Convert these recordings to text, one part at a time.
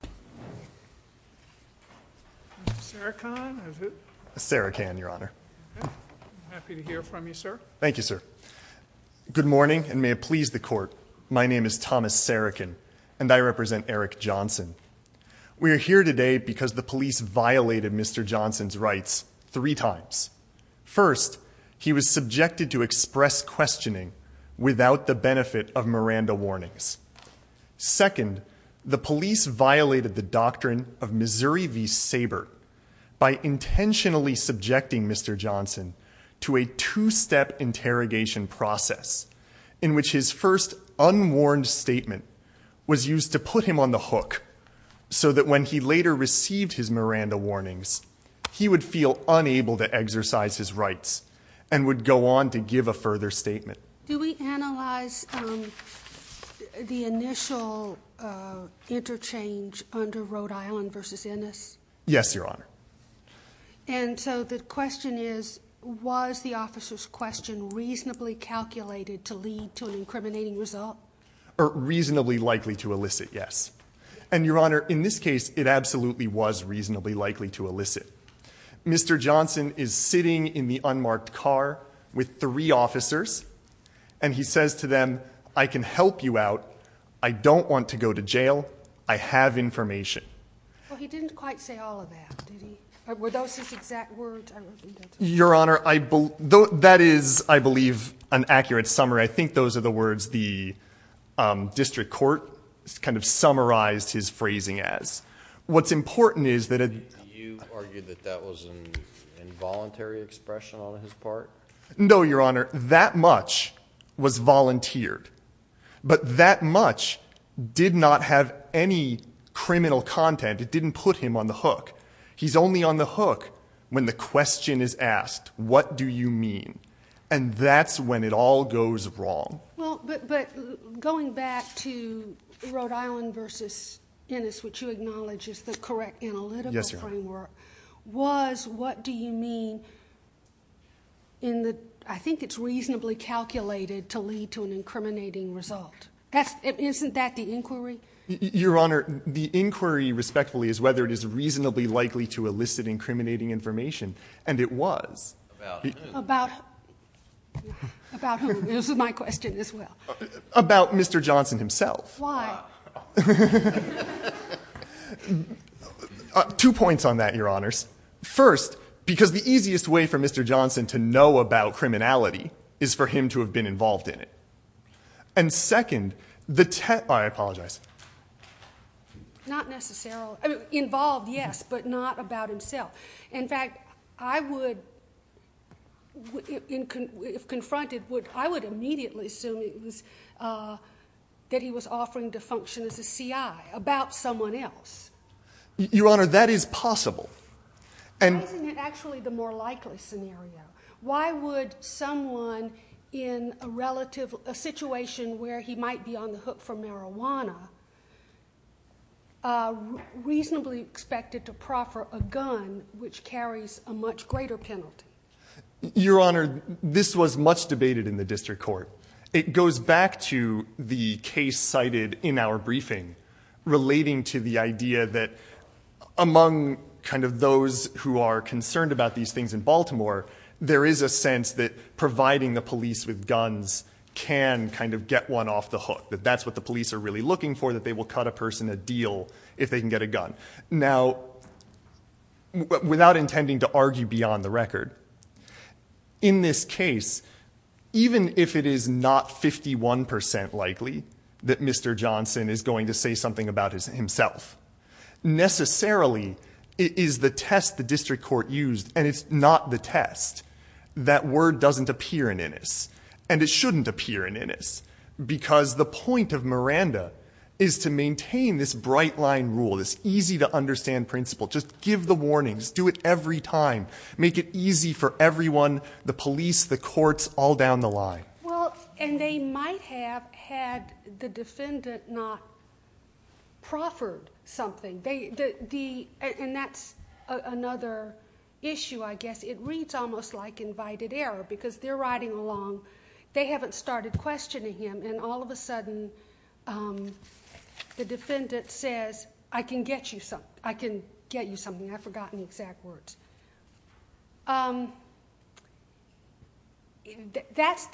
Good morning, and may it please the Court, my name is Thomas Sarican, and I represent Eric Johnson. We are here today because the police violated Mr. Johnson's rights three times. First, he was subjected to express questioning without the benefit of Miranda of Missouri v. Saber by intentionally subjecting Mr. Johnson to a two-step interrogation process in which his first unwarned statement was used to put him on the hook so that when he later received his Miranda warnings, he would feel unable to exercise his rights and would go on to give a further statement. Do we analyze the initial interchange under Rhode Island v. Ennis? Yes, Your Honor. And so the question is, was the officer's question reasonably calculated to lead to an incriminating result? Reasonably likely to elicit, yes. And, Your Honor, in this case, it absolutely was reasonably likely to elicit. Mr. Johnson is sitting in the unmarked car with three officers, and he says to them, I can help you out. I don't want to go to jail. I have information. Well, he didn't quite say all of that, did he? Were those his exact words? Your Honor, that is, I believe, an accurate summary. I think those are the words the District Court kind of summarized his phrasing as. What's important is that it You argued that that was an involuntary expression on his part? No, Your Honor. That much was volunteered. But that much did not have any criminal content. It didn't put him on the hook. He's only on the hook when the question is asked, what do you mean? And that's when it all goes wrong. Well, but going back to Rhode Island versus Ennis, which you acknowledge is the correct analytical framework, was what do you mean in the, I think it's reasonably calculated to lead to an incriminating result. Isn't that the inquiry? Your Honor, the inquiry, respectfully, is whether it is reasonably likely to elicit incriminating information. And it was. About who? About, about who? This is my question as well. About Mr. Johnson himself. Why? Two points on that, Your Honors. First, because the easiest way for Mr. Johnson to know about criminality is for him to have been involved in it. And second, the, I apologize. Not necessarily, I mean, involved, yes, but not about himself. In fact, I would, if confronted, I would immediately assume it was, that he was offering to function as a CI about someone else. Your Honor, that is possible. Why isn't it actually the more likely scenario? Why would someone in a relative, a situation where he might be on the hook for marijuana, reasonably expected to proffer a gun which carries a much greater penalty? Your Honor, this was much debated in the district court. It goes back to the case cited in our briefing relating to the idea that among kind of those who are concerned about these things in Baltimore, there is a sense that providing the police with guns can kind of get one off the hook, that that's what the police are really looking for, that they will cut a person a deal if they can get a gun. Now, without intending to argue beyond the record, in this case, even if it is not 51% likely that Mr. Johnson is going to say something about himself, necessarily it is the test the district court used, and it's not the test. That word doesn't appear in Innis, and it shouldn't appear in Innis, because the point of Miranda is to maintain this bright line rule, this easy to understand principle, just give the warnings, do it every time, make it easy for everyone, the police, the courts, all down the line. Well, and they might have had the defendant not proffered something, and that's another issue I guess. It reads almost like invited error, because they're riding along, they haven't started questioning him, and all of a sudden the defendant says, I can get you something, I've forgotten the exact words. That's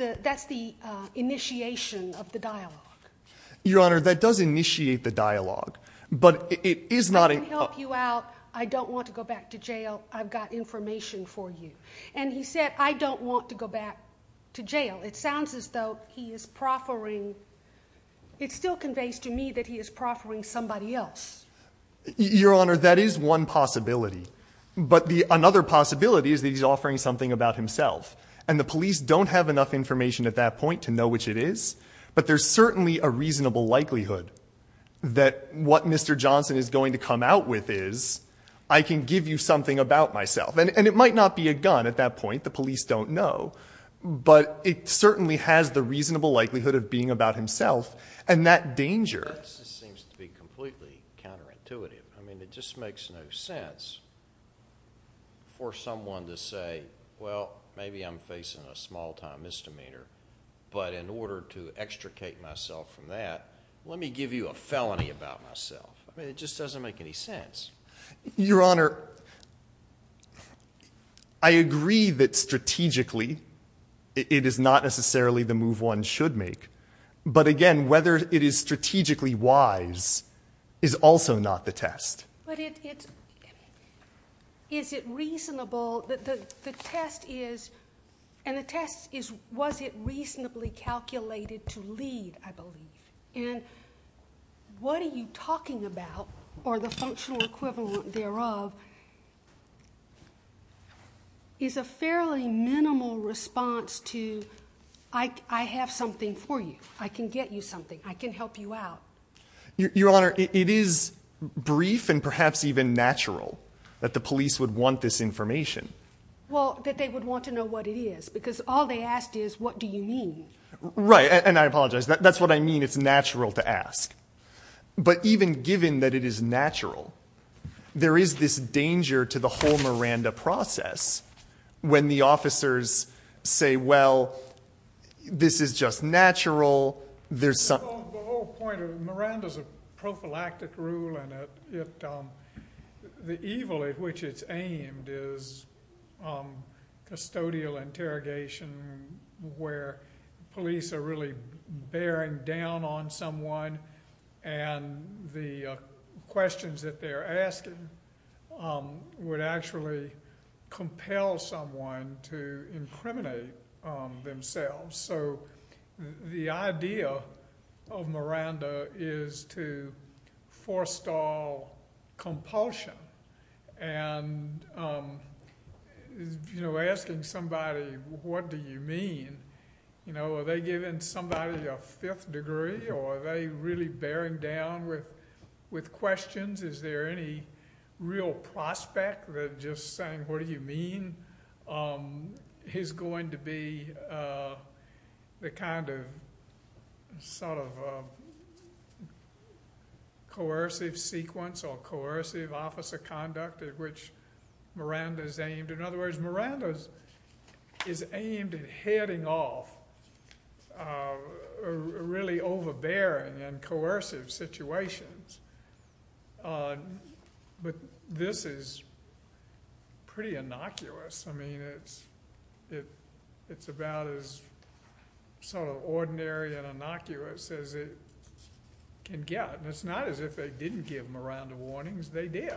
the initiation of the dialogue. Your Honor, that does initiate the dialogue, but it is not a... I can help you out, I don't want to go back to jail, I've got information for you. And he said, I don't want to go back to jail. It sounds as though he is proffering, it still conveys to me that he is proffering somebody else. Your Honor, that is one possibility. But another possibility is that he is offering something about himself. And the police don't have enough information at that point to know which it is, but there is certainly a reasonable likelihood that what Mr. Johnson is going to come out with is, I can give you something about myself. And it might not be a gun at that point, the police don't know, but it certainly has the reasonable likelihood of being about himself, and that danger... Seems to be completely counterintuitive. I mean, it just makes no sense for someone to say, well, maybe I'm facing a small-time misdemeanor, but in order to extricate myself from that, let me give you a felony about myself. I mean, it just doesn't make any sense. Your Honor, I agree that strategically, it is not necessarily the move one should make, but again, whether it is strategically wise is also not the test. But it's... Is it reasonable... The test is... And the test is, was it reasonably calculated to lead, I believe. And what are you talking about, or the functional equivalent thereof, is a fairly minimal response to, I have something for you, I can get you something, I can help you out. Your Honor, it is brief and perhaps even natural that the police would want this information. Well, that they would want to know what it is, because all they asked is, what do you mean? Right, and I apologize, that's what I mean, it's natural to ask. But even given that it is natural, there is this danger to the whole Miranda process, when the officers say, well, this is just natural, there's some... The whole point of... Miranda's a prophylactic rule, and it... The evil at which it's aimed is custodial interrogation, where police are really bearing down on someone, and the questions that they're asking would actually compel someone to incriminate themselves. So, the idea of Miranda is to forestall compulsion, and asking somebody, what do you mean? Are they giving somebody a fifth degree, or are they really bearing down with questions? Is there any real prospect that just saying, what do you mean, is going to be the kind of sort of coercive sequence or coercive officer conduct at which Miranda's aimed? In other words, but this is pretty innocuous. I mean, it's about as sort of ordinary and innocuous as it can get. And it's not as if they didn't give Miranda warnings, they did.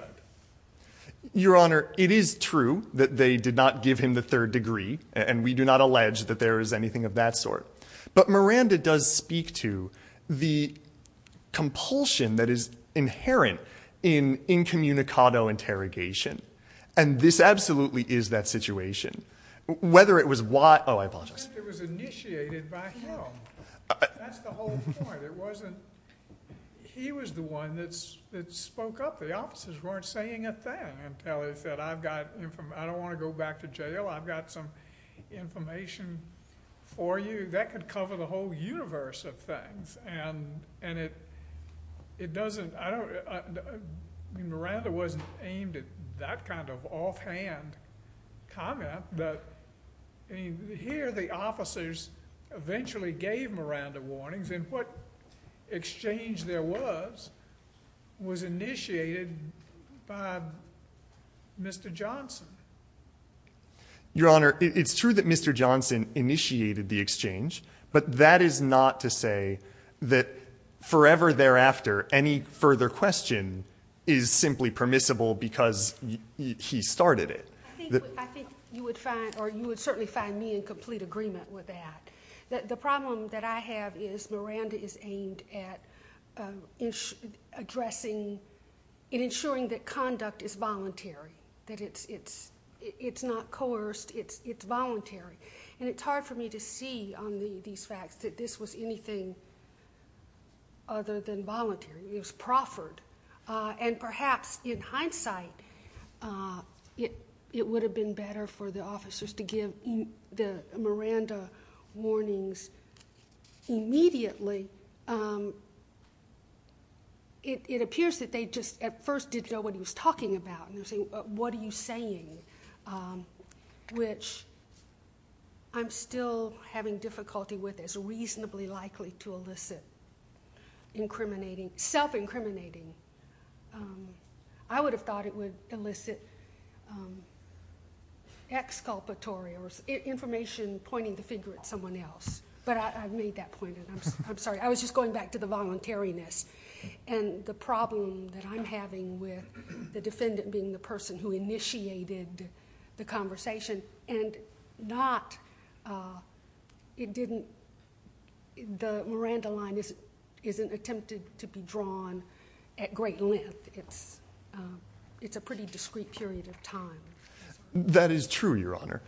Your Honor, it is true that they did not give him the third degree, and we do not allege that there is anything of that sort. But Miranda does speak to the compulsion that is inherent in incommunicado interrogation. And this absolutely is that situation. Whether it was why, oh I apologize. It was initiated by him. That's the whole point. It wasn't, he was the one that spoke up. The officers weren't saying a thing until he said, I've got, I don't want to go back to jail, I've got some information for you. That could cover the whole universe of things. And it doesn't, I don't, I mean, Miranda wasn't aimed at that kind of offhand comment. But I mean, here the officers eventually gave Miranda warnings. And what exchange there was, was initiated by Mr. Johnson. Your Honor, it's true that Mr. Johnson initiated the exchange, but that is not to say that forever thereafter, any further question is simply permissible because he started it. I think you would find, or you would certainly find me in complete agreement with that. The problem that I have is Miranda is aimed at addressing, ensuring that conduct is voluntary. That it's not coerced, it's voluntary. And it's hard for me to see on these facts that this was anything other than voluntary. It was proffered. And perhaps in hindsight, it would have been better for the officers to give the Miranda warnings immediately. It would have been, what are you saying? Which I'm still having difficulty with as reasonably likely to elicit incriminating, self-incriminating. I would have thought it would elicit exculpatory or information pointing the finger at someone else. But I've made that point. I'm sorry, I was just going back to the voluntariness. And the problem that I'm having with the defendant being the person who initiated the conversation and not, it didn't, the Miranda line isn't attempted to be drawn at great length. It's a pretty discrete period of time. That is true, Your Honor.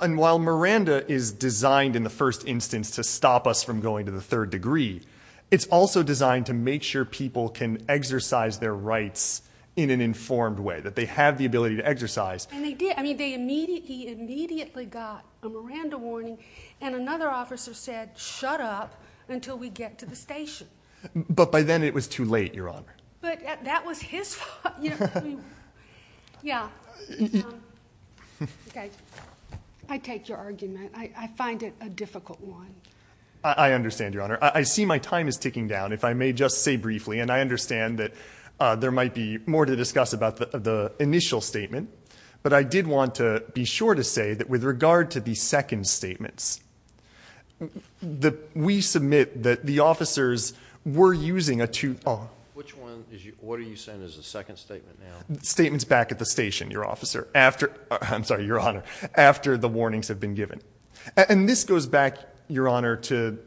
And while Miranda is designed in the first instance to stop us from going to the third degree, it's also designed to make sure people can exercise their rights in an informed way, that they have the ability to exercise. And they did. I mean, they immediately, he immediately got a Miranda warning and another officer said, shut up until we get to the station. But by then it was too late, Your Honor. But that was his fault. Yeah. Okay. I take your argument. I find it a difficult one. I understand, Your Honor. I see my time is ticking down. If I may just say briefly, and I understand that there might be more to discuss about the initial statement, but I did want to be sure to say that with regard to the second statements, that we submit that the officers were using a two, oh. Which one is you, what are you saying is the second statement now? Statements back at the station, Your Officer, after, I'm sorry, Your Honor, after the warnings have been given. And this goes back, Your Honor, to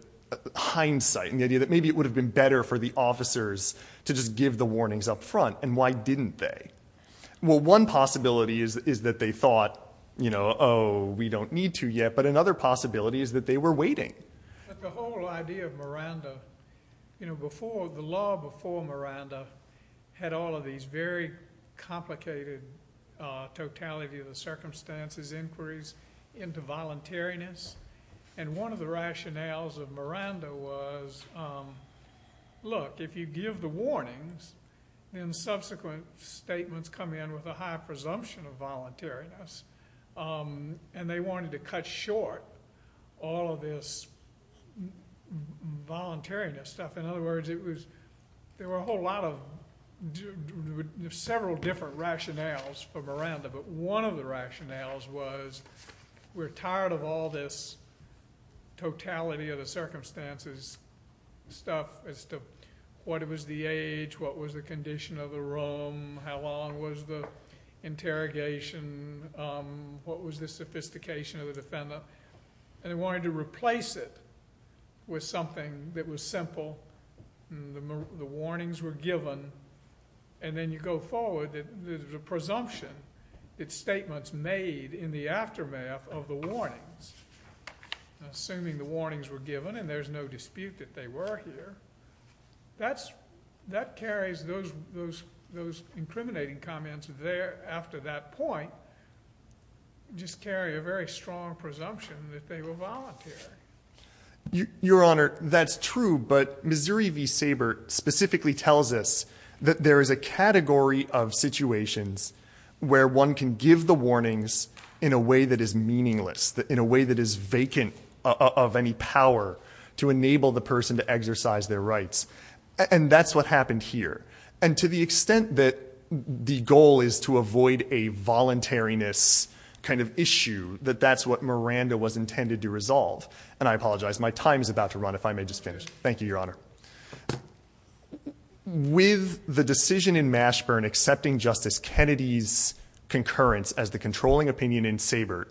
hindsight and the idea that maybe it would have been better for the officers to just give the warnings up front. And why didn't they? Well, one possibility is that they thought, you know, oh, we don't need to yet. But another possibility is that they were waiting. But the whole idea of Miranda, you know, before, the law before Miranda had all of these very complicated totality of the circumstances, inquiries into voluntariness. And one of the rationales of Miranda was, look, if you give the warnings, then subsequent statements come in with a high presumption of voluntariness. And they wanted to cut short all of this voluntariness stuff. In other words, it was, there were a whole lot of, several different rationales for Miranda. But one of the rationales was, we're tired of all this totality of the circumstances stuff as to what was the age, what was the condition of the room, how long was the interrogation, what was the sophistication of the defendant. And they wanted to replace it with something that was simple. The warnings were given. And then you go forward. The presumption, its statements made in the aftermath of the warnings, assuming the warnings were given and there's no dispute that they were here, that carries those incriminating comments there after that point, just carry a very strong presumption that they were voluntary. Your Honor, that's true. But Missouri v. Sabert specifically tells us that there is a category of situations where one can give the warnings in a way that is meaningless, in a way that is vacant of any power to enable the person to exercise their rights. And that's what happened here. And to the extent that the goal is to avoid a voluntariness kind of issue, that that's what Miranda was intended to resolve. And I apologize, my time is about to run if I may just finish. Thank you, Your Honor. With the decision in Mashburn accepting Justice Kennedy's concurrence as the controlling opinion in Sabert,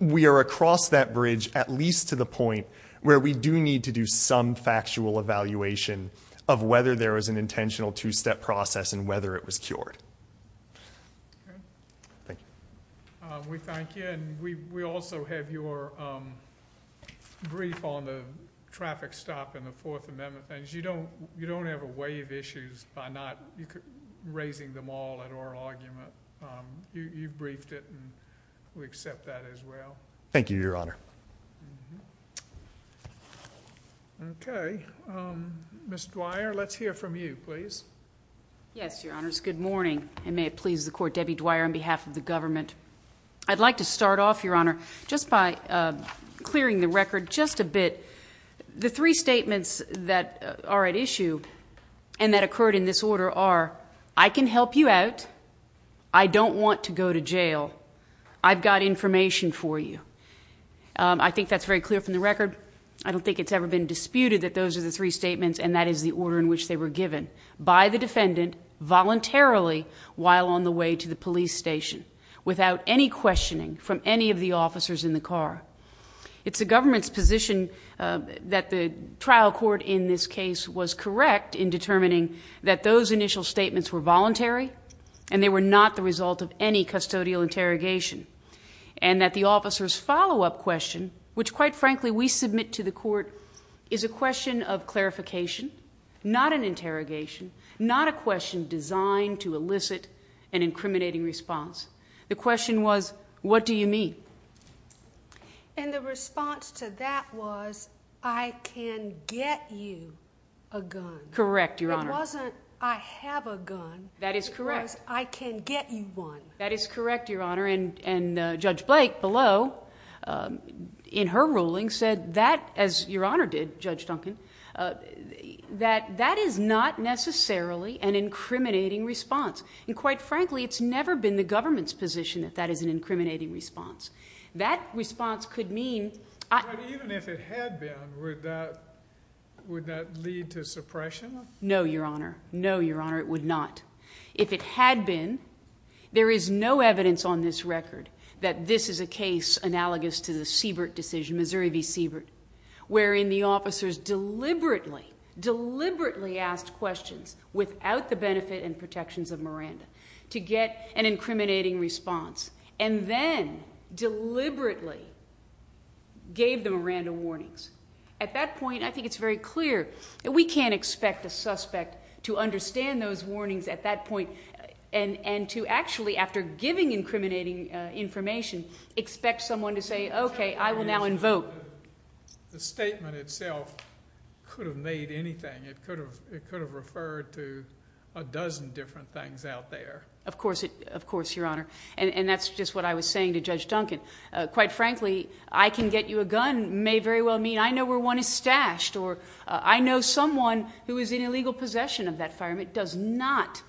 we are across that bridge at least to the point where we do need to do some factual evaluation of whether there was an intentional two-step process and whether it was cured. Thank you. We thank you. And we also have your brief on the traffic stop in the Fourth Amendment. You don't have a way of issues by not raising them all at oral argument. You briefed it and we accept that as well. Thank you, Your Honor. Okay. Ms. Dwyer, let's hear from you, please. Yes, Your Honors. Good morning. And may it please the Court, Debbie Dwyer, on behalf of the government. I'd like to start off, Your Honor, just by clearing the record just a bit. The three statements that are at issue and that occurred in this order are, I can I think that's very clear from the record. I don't think it's ever been disputed that those are the three statements and that is the order in which they were given by the defendant voluntarily while on the way to the police station without any questioning from any of the officers in the car. It's the government's position that the trial court in this case was correct in determining that those initial statements were voluntary and they were not the result of any custodial interrogation and that the officers' follow-up question, which quite frankly we submit to the court, is a question of clarification, not an interrogation, not a question designed to elicit an incriminating response. The question was, what do you mean? And the response to that was, I can get you a gun. Correct, Your Honor. It wasn't, I have a gun. That is correct. It was, I can get you one. That is correct, Your Honor. And Judge Blake below, in her ruling, said that, as Your Honor did, Judge Duncan, that that is not necessarily an incriminating response. And quite frankly, it's never been the government's position that that is an incriminating response. That response could mean... But even if it had been, would that lead to suppression? No, Your Honor. No, Your Honor. We have evidence on this record that this is a case analogous to the Siebert decision, Missouri v. Siebert, wherein the officers deliberately, deliberately asked questions without the benefit and protections of Miranda to get an incriminating response and then deliberately gave the Miranda warnings. At that point, I think it's very clear that we can't expect a suspect to understand those warnings at that point and to actually, after giving incriminating information, expect someone to say, okay, I will now invoke. The statement itself could have made anything. It could have referred to a dozen different things out there. Of course, Your Honor. And that's just what I was saying to Judge Duncan. Quite frankly, I can get you a gun may very well mean I know where one is stashed or I know someone who is in illegal possession of that firearm. It does not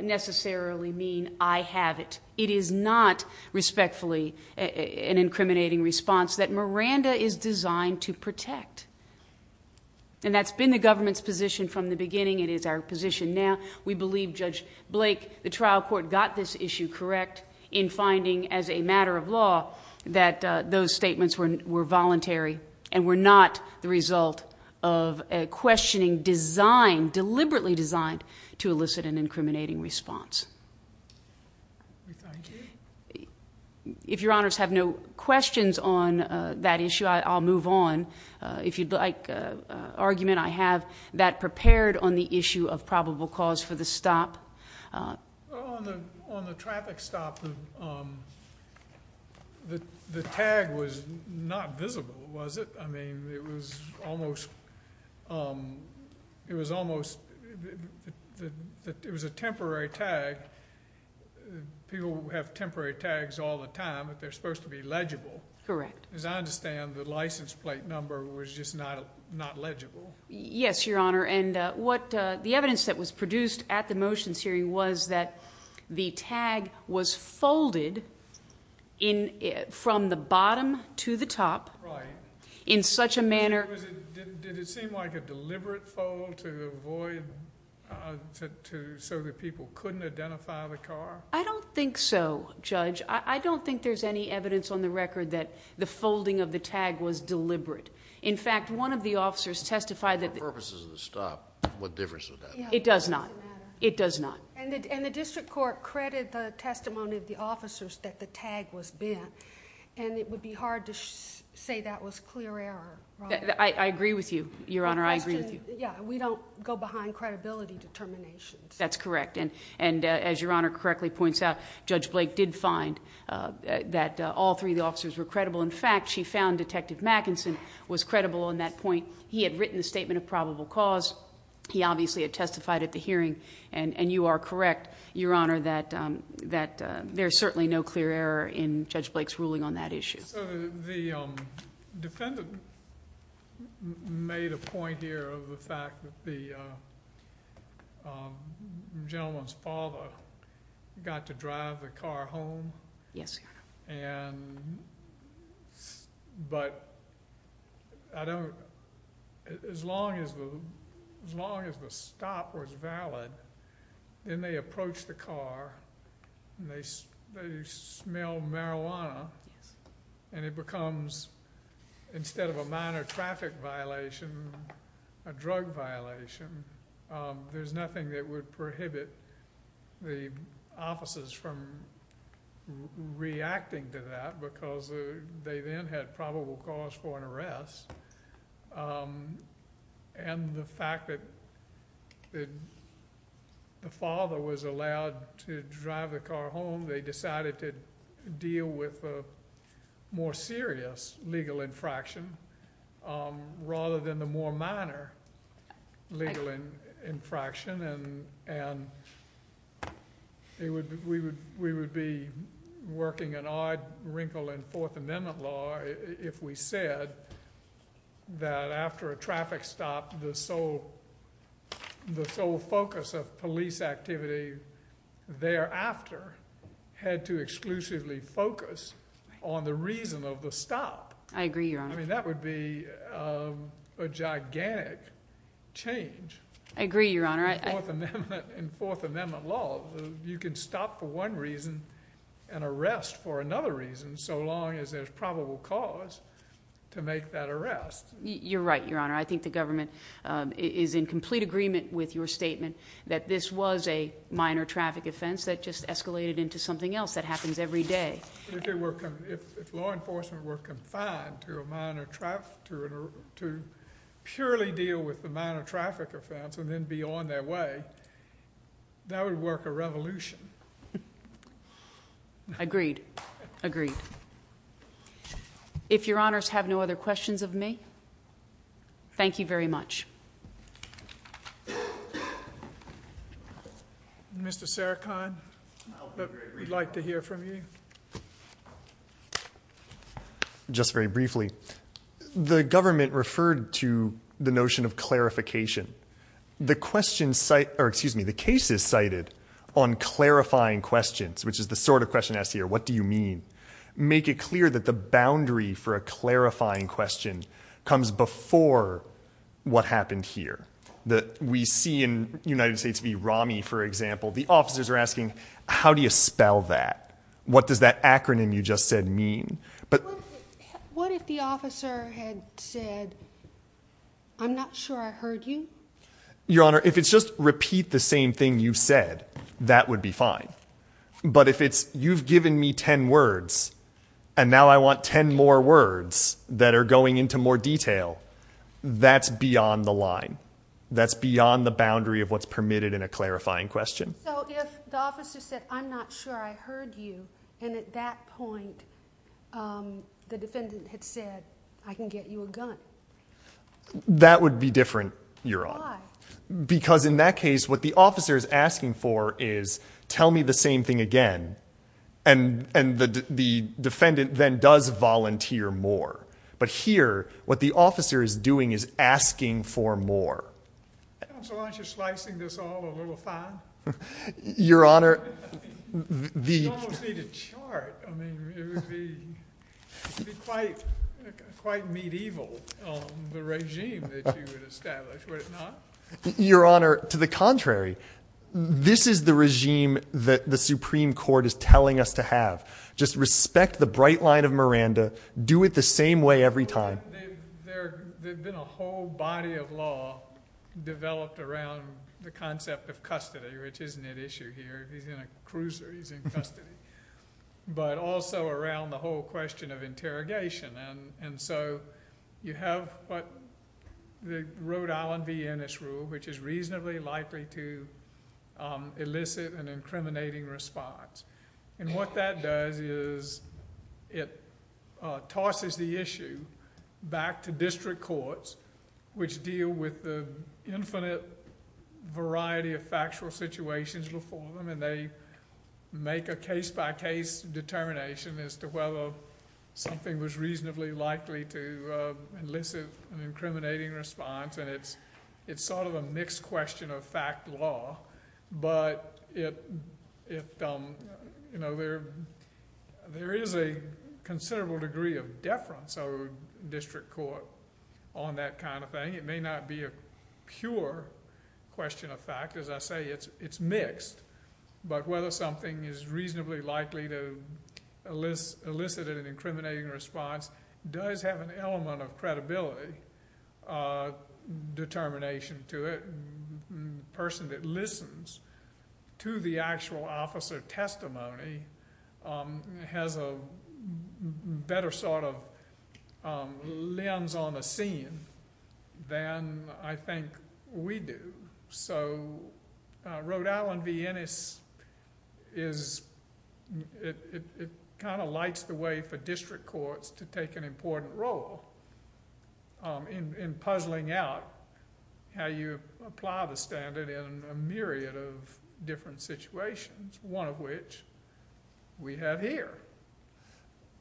necessarily mean I have it. It is not respectfully an incriminating response that Miranda is designed to protect. And that's been the government's position from the beginning. It is our position now. We believe Judge Blake, the trial court, got this issue correct in finding as a matter of law that those statements were voluntary and were not the result of a questioning designed, deliberately designed, to elicit an incriminating response. If Your Honors have no questions on that issue, I'll move on. If you'd like argument, I have that prepared on the issue of probable cause for the stop. On the traffic stop, the tag was not visible, was it? I mean, it was almost a temporary tag. People have temporary tags all the time, but they're supposed to be legible. Correct. As I understand, the license plate number was just not legible. Yes, Your Honor, and the evidence that was produced at the motions hearing was that the tag was folded from the bottom to the top in such a manner... Did it seem like a deliberate fold to avoid, so that people couldn't identify the car? I don't think so, Judge. I don't think there's any evidence on the record that the folding of the tag was deliberate. In fact, one of the officers testified that... For purposes of the stop, what difference would that make? It does not. It does not. And the district court credited the testimony of the officers that the tag was bent, and it would be hard to say that was clear error. I agree with you, Your Honor. I agree with you. Yeah, we don't go behind credibility determinations. That's correct, and as Your Honor correctly points out, Judge Blake did find that all three officers were credible. In fact, she found Detective Mackinson was credible on that point. He had written the statement of probable cause. He obviously had testified at the hearing, and you are correct, Your Honor, that there's certainly no clear error in Judge Blake's ruling on that issue. The defendant made a point here of the fact that the gentleman's father got to drive the car home. Yes, Your Honor. But as long as the stop was valid, then they approach the car, and they smell marijuana, and it becomes, instead of a minor traffic violation, a drug violation, there's nothing that would prohibit the officers from reacting to that because they then had probable cause for an arrest. And the fact that the father was allowed to drive the car home, they decided to deal with a more serious legal infraction rather than the more minor legal infraction, and we would be working an odd wrinkle in Fourth Amendment law if we said that after a traffic stop, the sole focus of police activity thereafter had to exclusively focus on the reason of the stop. I agree, Your Honor. I mean, that would be a gigantic change in Fourth Amendment law. You can stop for one reason and arrest for another reason so long as there's probable cause to make that arrest. You're right, Your Honor. I think the government is in complete agreement with your statement that this was a minor traffic offense that just escalated into something else that happens every day. If law enforcement were confined to purely deal with the minor traffic offense and then be on their way, that would work a revolution. Agreed. Agreed. If Your Honors have no other questions of me, thank you very much. Mr. Sarikhan, we'd like to hear from you. Just very briefly, the government referred to the notion of clarification. The cases cited on clarifying questions, which is the sort of question asked here, what do you mean, make it clear that the boundary for a clarifying question comes before what happened here? We see in United States v. Rami, for example, the officers are asking, how do you spell that? What does that acronym you just said mean? What if the officer had said, I'm not sure I heard you? Your Honor, if it's just repeat the same thing you said, that would be fine. But if it's, you've given me ten words, and now I want ten more words that are going into more detail, that's beyond the line. That's beyond the boundary of what's permitted in a clarifying question. So if the officer said, I'm not sure I heard you, and at that point the defendant had said, I can get you a gun. That would be different, Your Honor. Why? Because in that case, what the officer is asking for is, tell me the same thing again. And the defendant then does volunteer more. But here, what the officer is doing is asking for more. Counsel, aren't you slicing this all a little fine? Your Honor. You almost need a chart. I mean, it would be quite medieval, the regime that you would establish. Would it not? Your Honor, to the contrary. This is the regime that the Supreme Court is telling us to have. Just respect the bright line of Miranda. Do it the same way every time. There's been a whole body of law developed around the concept of custody, which isn't at issue here. He's in a cruiser. He's in custody. But also around the whole question of interrogation. And so you have what the Rhode Island v. Ennis rule, which is reasonably likely to elicit an incriminating response. And what that does is it tosses the issue back to district courts, which deal with the infinite variety of factual situations before them. And they make a case-by-case determination as to whether something was reasonably likely to elicit an incriminating response. And it's sort of a mixed question of fact law. But there is a considerable degree of deference of a district court on that kind of thing. It may not be a pure question of fact. As I say, it's mixed. But whether something is reasonably likely to elicit an incriminating response does have an element of credibility determination to it. The person that listens to the actual officer testimony has a better sort of lens on the scene than I think we do. So Rhode Island v. Ennis, it kind of lights the way for district courts to take an important role in puzzling out how you apply the standard in a myriad of different situations, one of which we have here.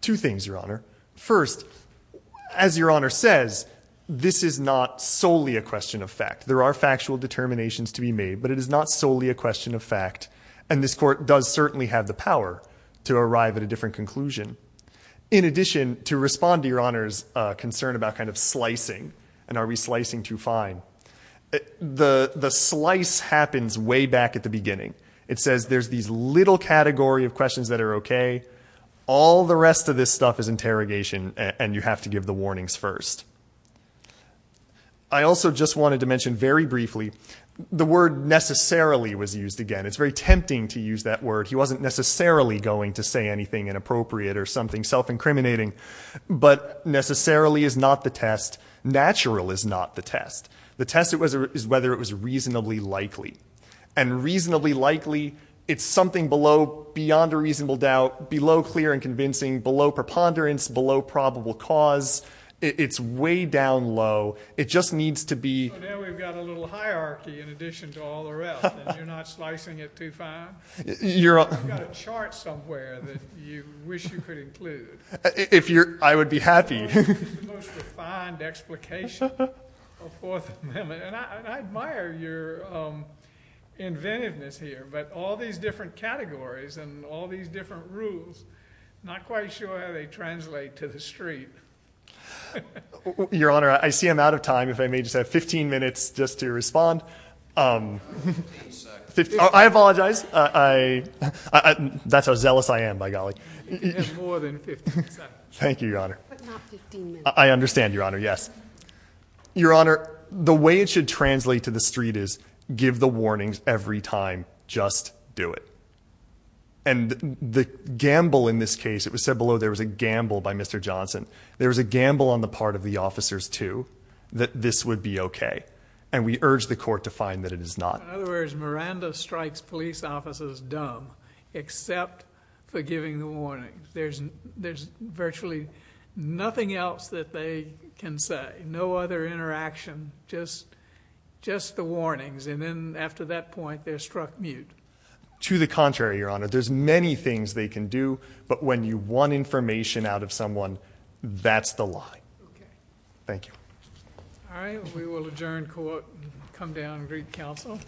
Two things, Your Honor. First, as Your Honor says, this is not solely a question of fact. There are factual determinations to be made. But it is not solely a question of fact. And this court does certainly have the power to arrive at a different conclusion. In addition, to respond to Your Honor's concern about kind of slicing, and are we slicing too fine, the slice happens way back at the beginning. It says there's these little category of questions that are okay. All the rest of this stuff is interrogation, and you have to give the warnings first. I also just wanted to mention very briefly the word necessarily was used again. It's very tempting to use that word. He wasn't necessarily going to say anything inappropriate or something self-incriminating. But necessarily is not the test. Natural is not the test. The test is whether it was reasonably likely. And reasonably likely, it's something below, beyond a reasonable doubt, below clear and convincing, below preponderance, below probable cause. It's way down low. It just needs to be. Now we've got a little hierarchy in addition to all the rest, and you're not slicing it too fine? You've got a chart somewhere that you wish you could include. I would be happy. The most refined explication of Fourth Amendment. And I admire your inventiveness here. But all these different categories and all these different rules, I'm not quite sure how they translate to the street. Your Honor, I see I'm out of time. If I may just have 15 minutes just to respond. 15 seconds. I apologize. That's how zealous I am, by golly. You have more than 15 seconds. Thank you, Your Honor. But not 15 minutes. I understand, Your Honor, yes. Your Honor, the way it should translate to the street is give the warnings every time. Just do it. And the gamble in this case, it was said below there was a gamble by Mr. Johnson. There was a gamble on the part of the officers, too, that this would be okay. And we urge the court to find that it is not. In other words, Miranda strikes police officers dumb except for giving the warnings. There's virtually nothing else that they can say, no other interaction, just the warnings. And then after that point, they're struck mute. To the contrary, Your Honor, there's many things they can do, but when you want information out of someone, that's the lie. Okay. Thank you. All right. We will adjourn court and come down and greet counsel.